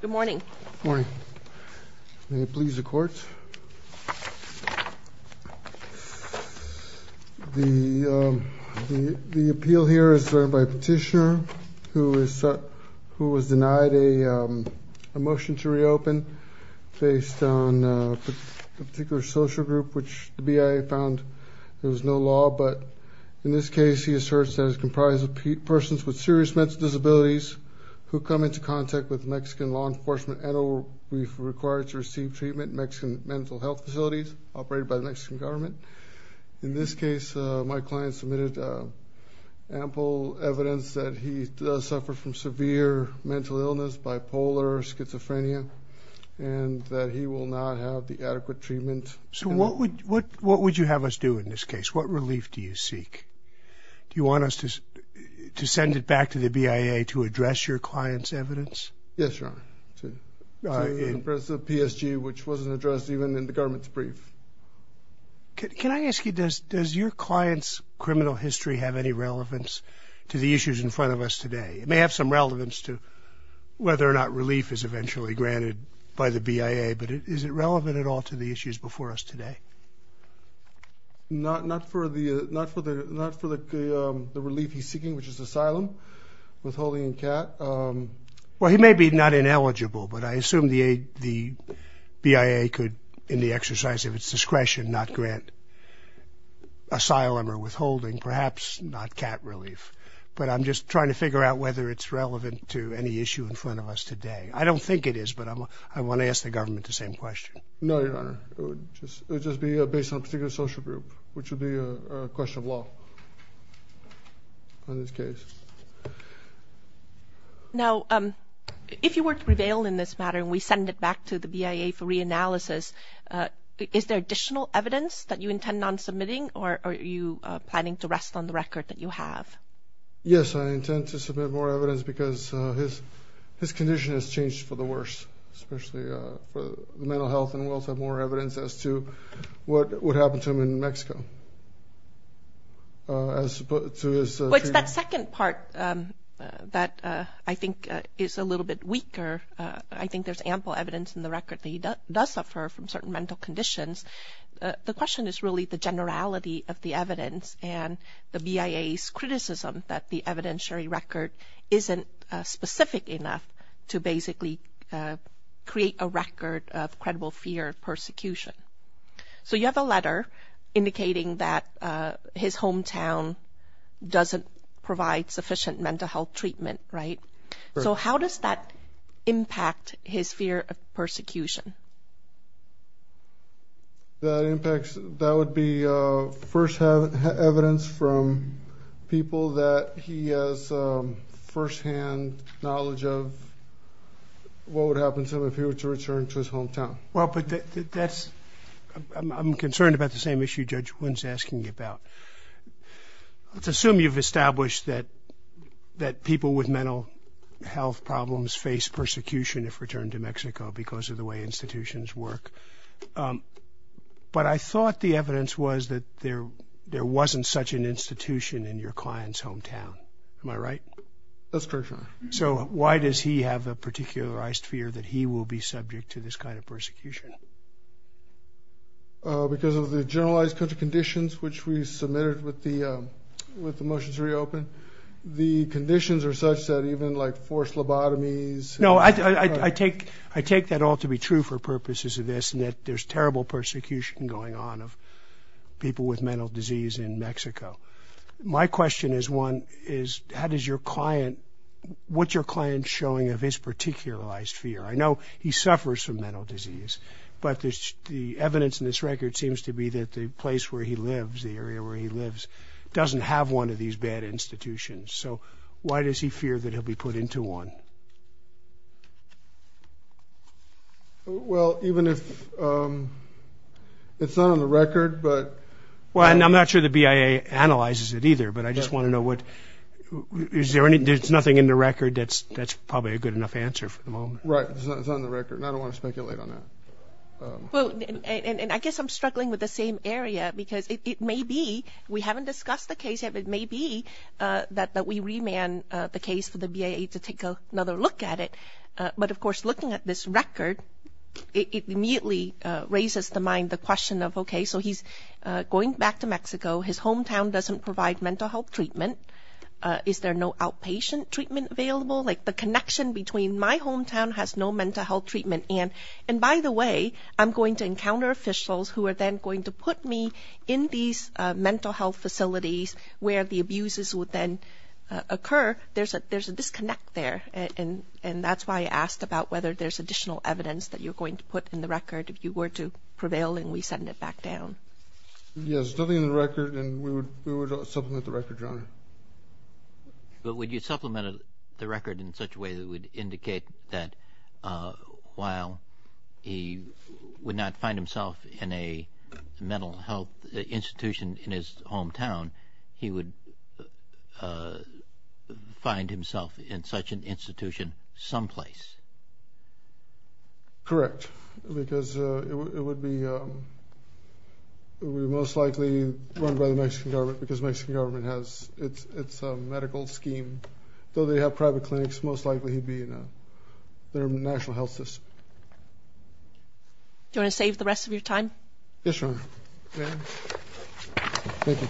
Good morning. Good morning. May it please the court. The appeal here is by a petitioner who was denied a motion to reopen based on a particular social group which the BIA found there was no law, but in this case he asserts that it is comprised of persons with serious mental disabilities who come into contact with Mexican law enforcement and are required to receive treatment in Mexican mental health facilities operated by the Mexican government. In this case, my client submitted ample evidence that he does suffer from severe mental illness, bipolar, schizophrenia, and that he will not have the adequate treatment. So what would you have us do in this case? What relief do you seek? Do you want us to send it back to the BIA to address your client's evidence? Yes, Your Honor. In the presence of PSG, which wasn't addressed even in the government's brief. Can I ask you, does your client's criminal history have any relevance to the issues in front of us today? It may have some relevance to whether or not relief is eventually granted by the BIA, but is it relevant at all to the issues before us today? Not for the relief he's seeking, which is asylum, withholding, and CAT. Well, he may be not ineligible, but I assume the BIA could, in the exercise of its discretion, not grant asylum or withholding, perhaps not CAT relief. But I'm just trying to figure out whether it's relevant to any issue in front of us today. I don't think it is, but I want to ask the government the same question. No, Your Honor. It would just be based on a particular social group, which would be a question of law on this case. Now, if you were to prevail in this matter and we send it back to the BIA for reanalysis, is there additional evidence that you intend on submitting, or are you planning to rest on the record that you have? Yes, I intend to submit more evidence because his condition has changed for the worse, especially for mental health, and we'll submit more evidence as to what happened to him in Mexico. It's that second part that I think is a little bit weaker. I think there's ample evidence in the record that he does suffer from certain mental conditions. The question is really the generality of the evidence and the BIA's criticism that the evidentiary record isn't specific enough to basically create a record of credible fear of persecution. So you have a letter indicating that his hometown doesn't provide sufficient mental health treatment, right? So how does that impact his fear of persecution? That would be first evidence from people that he has firsthand knowledge of what would happen to him if he were to return to his hometown. Well, I'm concerned about the same issue Judge Wynn's asking about. Let's assume you've established that people with mental health problems face persecution if returned to Mexico because of the way institutions work. But I thought the evidence was that there wasn't such an institution in your client's hometown. Am I right? That's correct, Your Honor. So why does he have a particularized fear that he will be subject to this kind of persecution? Because of the generalized conditions which we submitted with the motions reopened. The conditions are such that even like forced lobotomies. No, I take that all to be true for purposes of this, and that there's terrible persecution going on of people with mental disease in Mexico. My question is how does your client, what's your client showing of his particularized fear? I know he suffers from mental disease, but the evidence in this record seems to be that the place where he lives, the area where he lives, doesn't have one of these bad institutions. So why does he fear that he'll be put into one? Well, even if it's not on the record, but. Well, and I'm not sure the BIA analyzes it either, but I just want to know what, is there anything, there's nothing in the record that's probably a good enough answer for the moment. Right, it's not on the record, and I don't want to speculate on that. And I guess I'm struggling with the same area because it may be, we haven't discussed the case yet, but it may be that we remand the case for the BIA to take another look at it. But, of course, looking at this record, it immediately raises to mind the question of, okay, so he's going back to Mexico. His hometown doesn't provide mental health treatment. Is there no outpatient treatment available? Like the connection between my hometown has no mental health treatment, and by the way, I'm going to encounter officials who are then going to put me in these mental health facilities where the abuses would then occur. There's a disconnect there, and that's why I asked about whether there's additional evidence that you're going to put in the record if you were to prevail and we send it back down. Yes, there's nothing in the record, and we would supplement the record, Your Honor. But would you supplement the record in such a way that would indicate that while he would not find himself in a mental health institution in his hometown, he would find himself in such an institution someplace? Correct, because it would be most likely run by the Mexican government because the Mexican government has its medical scheme. Though they have private clinics, most likely he'd be in their national health system. Do you want to save the rest of your time? Yes, Your Honor. Thank you.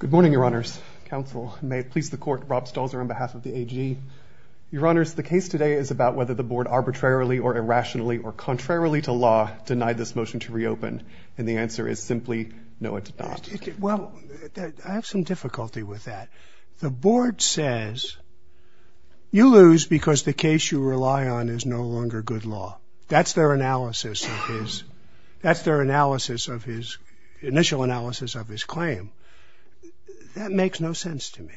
Good morning, Your Honors. Counsel, may it please the Court, Rob Stolzer on behalf of the AG. Your Honors, the case today is about whether the Board arbitrarily or irrationally or contrarily to law denied this motion to reopen, and the answer is simply no, it did not. Well, I have some difficulty with that. The Board says you lose because the case you rely on is no longer good law. That's their analysis of his initial analysis of his claim. That makes no sense to me.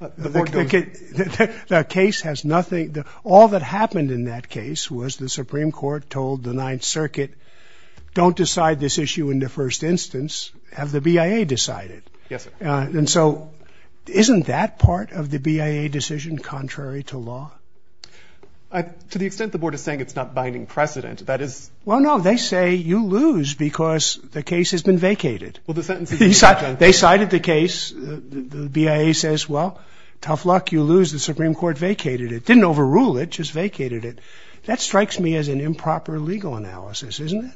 The case has nothing. All that happened in that case was the Supreme Court told the Ninth Circuit, don't decide this issue in the first instance, have the BIA decide it. Yes, sir. And so isn't that part of the BIA decision contrary to law? To the extent the Board is saying it's not binding precedent, that is. Well, no, they say you lose because the case has been vacated. Well, the sentence is not done. They cited the case. The BIA says, well, tough luck, you lose. The Supreme Court vacated it. Didn't overrule it, just vacated it. That strikes me as an improper legal analysis, isn't it?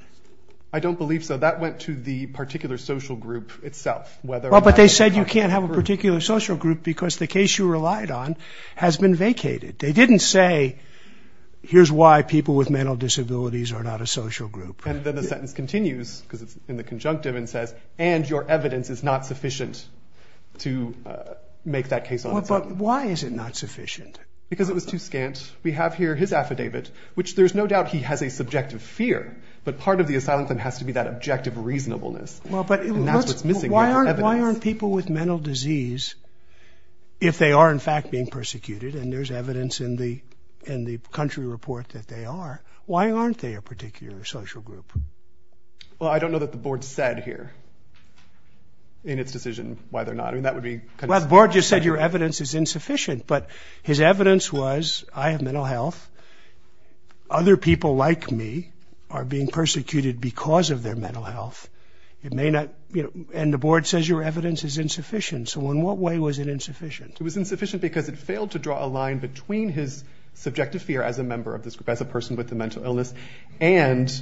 I don't believe so. That went to the particular social group itself. But they said you can't have a particular social group because the case you relied on has been vacated. They didn't say, here's why people with mental disabilities are not a social group. And then the sentence continues, because it's in the conjunctive, and says, and your evidence is not sufficient to make that case on its own. But why is it not sufficient? Because it was too scant. We have here his affidavit, which there's no doubt he has a subjective fear, but part of the asylum claim has to be that objective reasonableness. And that's what's missing. Why aren't people with mental disease, if they are, in fact, being persecuted, and there's evidence in the country report that they are, why aren't they a particular social group? Well, I don't know that the Board said here in its decision why they're not. I mean, that would be kind of— Well, the Board just said your evidence is insufficient. But his evidence was, I have mental health. Other people like me are being persecuted because of their mental health. It may not—and the Board says your evidence is insufficient. So in what way was it insufficient? It was insufficient because it failed to draw a line between his subjective fear as a member of this group, as a person with a mental illness, and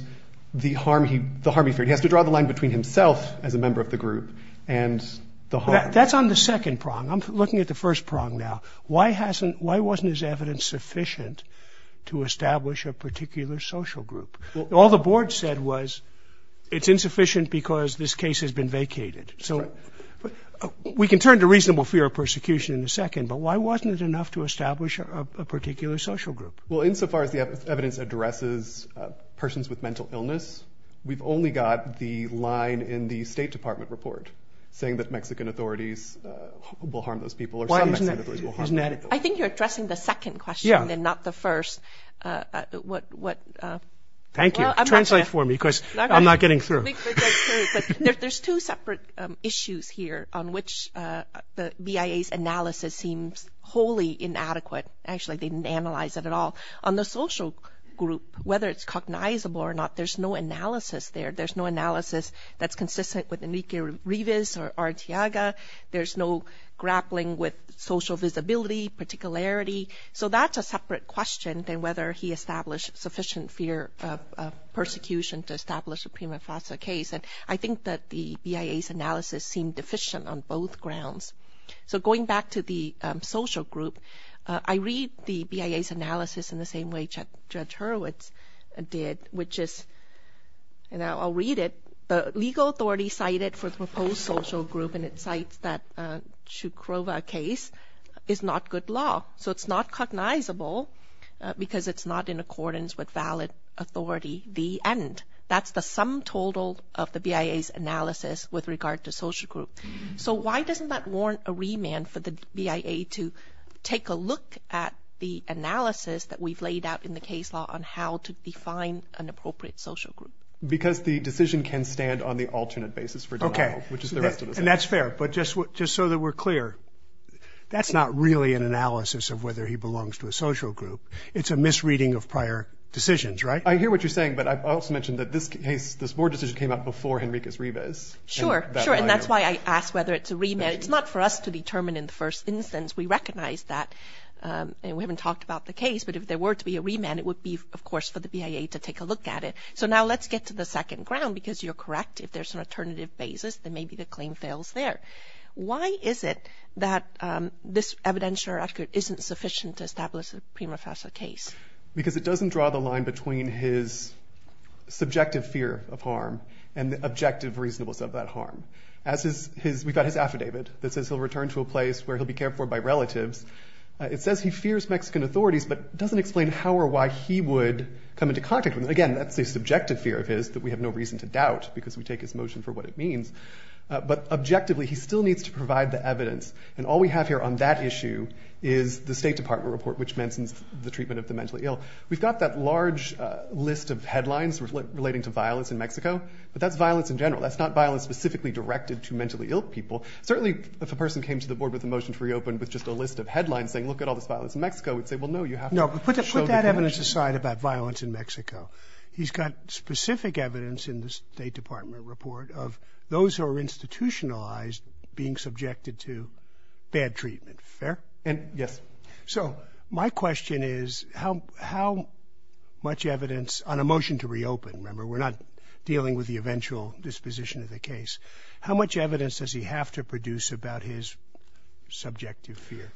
the harm he feared. He has to draw the line between himself as a member of the group and the harm. That's on the second prong. I'm looking at the first prong now. Why wasn't his evidence sufficient to establish a particular social group? All the Board said was it's insufficient because this case has been vacated. So we can turn to reasonable fear of persecution in a second, but why wasn't it enough to establish a particular social group? Well, insofar as the evidence addresses persons with mental illness, we've only got the line in the State Department report saying that Mexican authorities will harm those people. I think you're addressing the second question and not the first. Thank you. Translate for me because I'm not getting through. There's two separate issues here on which the BIA's analysis seems wholly inadequate. Actually, they didn't analyze it at all. On the social group, whether it's cognizable or not, there's no analysis there. There's no analysis that's consistent with Enrique Rivas or Arteaga. There's no grappling with social visibility, particularity. So that's a separate question than whether he established sufficient fear of persecution to establish a prima facie case. I think that the BIA's analysis seemed deficient on both grounds. So going back to the social group, I read the BIA's analysis in the same way Judge Hurwitz did, which is, you know, I'll read it. The legal authority cited for the proposed social group, and it cites that Chukrova case, is not good law. So it's not cognizable because it's not in accordance with valid authority, the end. That's the sum total of the BIA's analysis with regard to social group. So why doesn't that warrant a remand for the BIA to take a look at the analysis that we've laid out in the case law on how to define an appropriate social group? Because the decision can stand on the alternate basis for denial, which is the rest of the case. Okay, and that's fair, but just so that we're clear, that's not really an analysis of whether he belongs to a social group. It's a misreading of prior decisions, right? I hear what you're saying, but I also mentioned that this case, this board decision came up before Enrique Rivas. Sure, sure, and that's why I asked whether it's a remand. It's not for us to determine in the first instance. We recognize that, and we haven't talked about the case, but if there were to be a remand, it would be, of course, for the BIA to take a look at it. So now let's get to the second ground because you're correct. If there's an alternative basis, then maybe the claim fails there. Why is it that this evidentiary record isn't sufficient to establish a prima facie case? Because it doesn't draw the line between his subjective fear of harm and the objective reasonableness of that harm. We've got his affidavit that says he'll return to a place where he'll be cared for by relatives. It says he fears Mexican authorities, but it doesn't explain how or why he would come into contact with them. Again, that's a subjective fear of his that we have no reason to doubt because we take his motion for what it means. But objectively, he still needs to provide the evidence, and all we have here on that issue is the State Department report which mentions the treatment of the mentally ill. We've got that large list of headlines relating to violence in Mexico, but that's violence in general. That's not violence specifically directed to mentally ill people. Certainly if a person came to the board with a motion to reopen with just a list of headlines saying, look at all this violence in Mexico, we'd say, well, no, you have to show the connection. No, but put that evidence aside about violence in Mexico. He's got specific evidence in the State Department report of those who are institutionalized being subjected to bad treatment. Fair? Yes. So my question is how much evidence on a motion to reopen, remember, we're not dealing with the eventual disposition of the case, how much evidence does he have to produce about his subjective fear?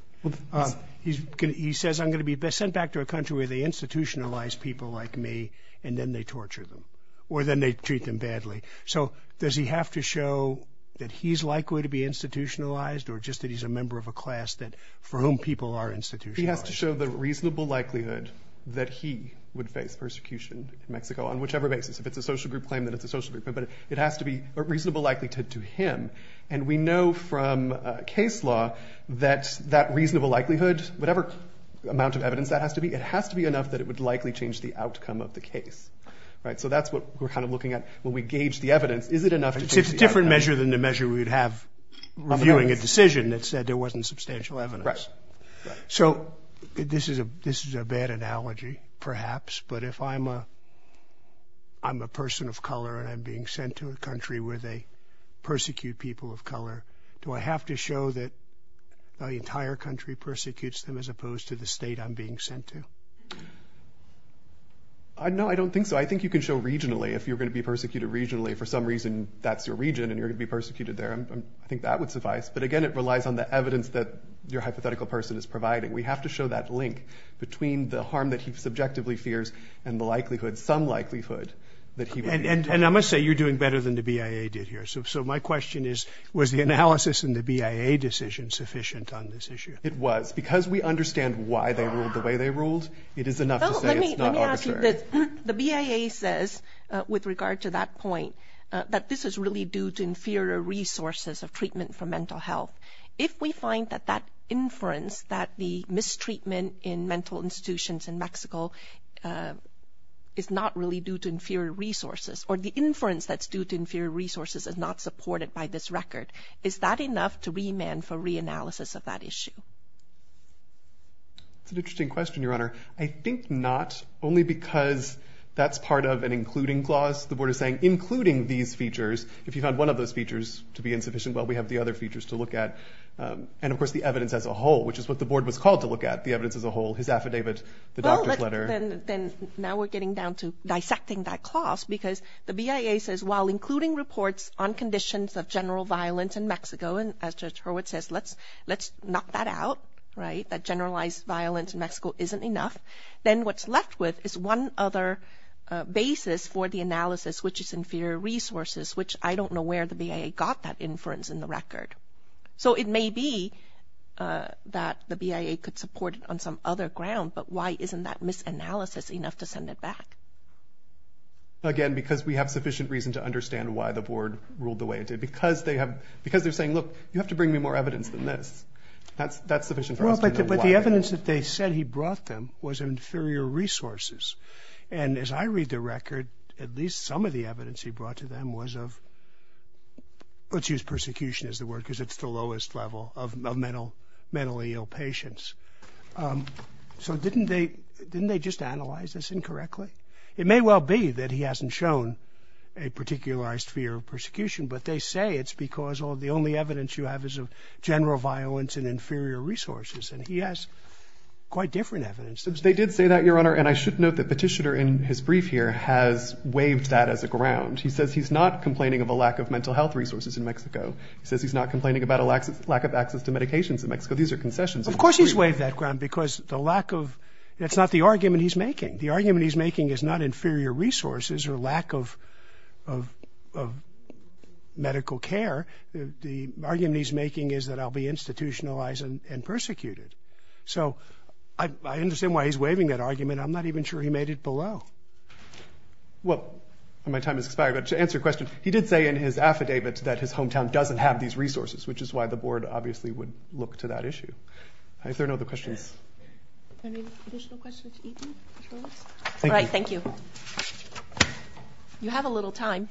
He says I'm going to be sent back to a country where they institutionalize people like me and then they torture them or then they treat them badly. So does he have to show that he's likely to be institutionalized or just that he's a member of a class for whom people are institutionalized? He has to show the reasonable likelihood that he would face persecution in Mexico on whichever basis, if it's a social group claim, then it's a social group claim, but it has to be a reasonable likelihood to him. And we know from case law that that reasonable likelihood, whatever amount of evidence that has to be, it has to be enough that it would likely change the outcome of the case. So that's what we're kind of looking at when we gauge the evidence. Is it enough to change the outcome? It's a different measure than the measure we would have reviewing a decision that said there wasn't substantial evidence. So this is a bad analogy, perhaps, but if I'm a person of color and I'm being sent to a country where they persecute people of color, do I have to show that the entire country persecutes them as opposed to the state I'm being sent to? No, I don't think so. I think you can show regionally if you're going to be persecuted regionally. If for some reason that's your region and you're going to be persecuted there, I think that would suffice. But, again, it relies on the evidence that your hypothetical person is providing. We have to show that link between the harm that he subjectively fears and the likelihood, some likelihood, that he would be persecuted. And I must say you're doing better than the BIA did here. So my question is, was the analysis in the BIA decision sufficient on this issue? It was. Because we understand why they ruled the way they ruled, it is enough to say it's not arbitrary. Let me ask you this. The BIA says, with regard to that point, that this is really due to inferior resources of treatment for mental health. If we find that that inference, that the mistreatment in mental institutions in Mexico is not really due to inferior resources, or the inference that's due to inferior resources is not supported by this record, is that enough to remand for reanalysis of that issue? That's an interesting question, Your Honor. I think not, only because that's part of an including clause. The Board is saying including these features, if you found one of those features to be insufficient, well, we have the other features to look at. And, of course, the evidence as a whole, which is what the Board was called to look at, the evidence as a whole, his affidavit, the doctor's letter. Well, then now we're getting down to dissecting that clause because the BIA says, while including reports on conditions of general violence in Mexico, and as Judge Hurwitz says, let's knock that out, right, that generalized violence in Mexico isn't enough, then what's left with is one other basis for the analysis, which is inferior resources, which I don't know where the BIA got that inference in the record. So it may be that the BIA could support it on some other ground, but why isn't that misanalysis enough to send it back? Again, because we have sufficient reason to understand why the Board ruled the way it did. Because they're saying, look, you have to bring me more evidence than this. That's sufficient for us to know why. But the evidence that they said he brought them was inferior resources. And as I read the record, at least some of the evidence he brought to them was of, let's use persecution as the word, because it's the lowest level of mentally ill patients. So didn't they just analyze this incorrectly? It may well be that he hasn't shown a particularized fear of persecution, but they say it's because the only evidence you have is of general violence and inferior resources. And he has quite different evidence. They did say that, Your Honor, and I should note that Petitioner in his brief here has waived that as a ground. He says he's not complaining of a lack of mental health resources in Mexico. He says he's not complaining about a lack of access to medications in Mexico. These are concessions. Of course he's waived that ground, because the lack of... It's not the argument he's making. The argument he's making is not inferior resources or lack of medical care. The argument he's making is that I'll be institutionalized and persecuted. So I understand why he's waiving that argument. I'm not even sure he made it below. Well, my time has expired, but to answer your question, he did say in his affidavit that his hometown doesn't have these resources, which is why the board obviously would look to that issue. Are there no other questions? Any additional questions? All right, thank you. You have a little time.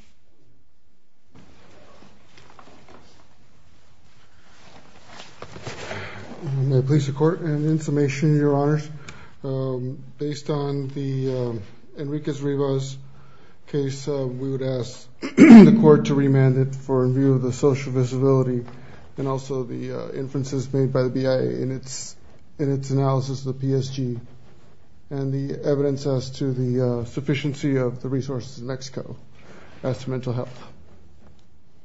I'm going to place the court. And in summation, Your Honors, based on Enrique Rivas' case, we would ask the court to remand it for review of the social visibility and also the inferences made by the BIA in its analysis of the PSG and the evidence as to the sufficiency of the resources in Mexico as to mental health.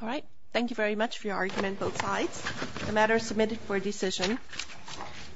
All right, thank you very much for your argument, both sides. The matter is submitted for decision.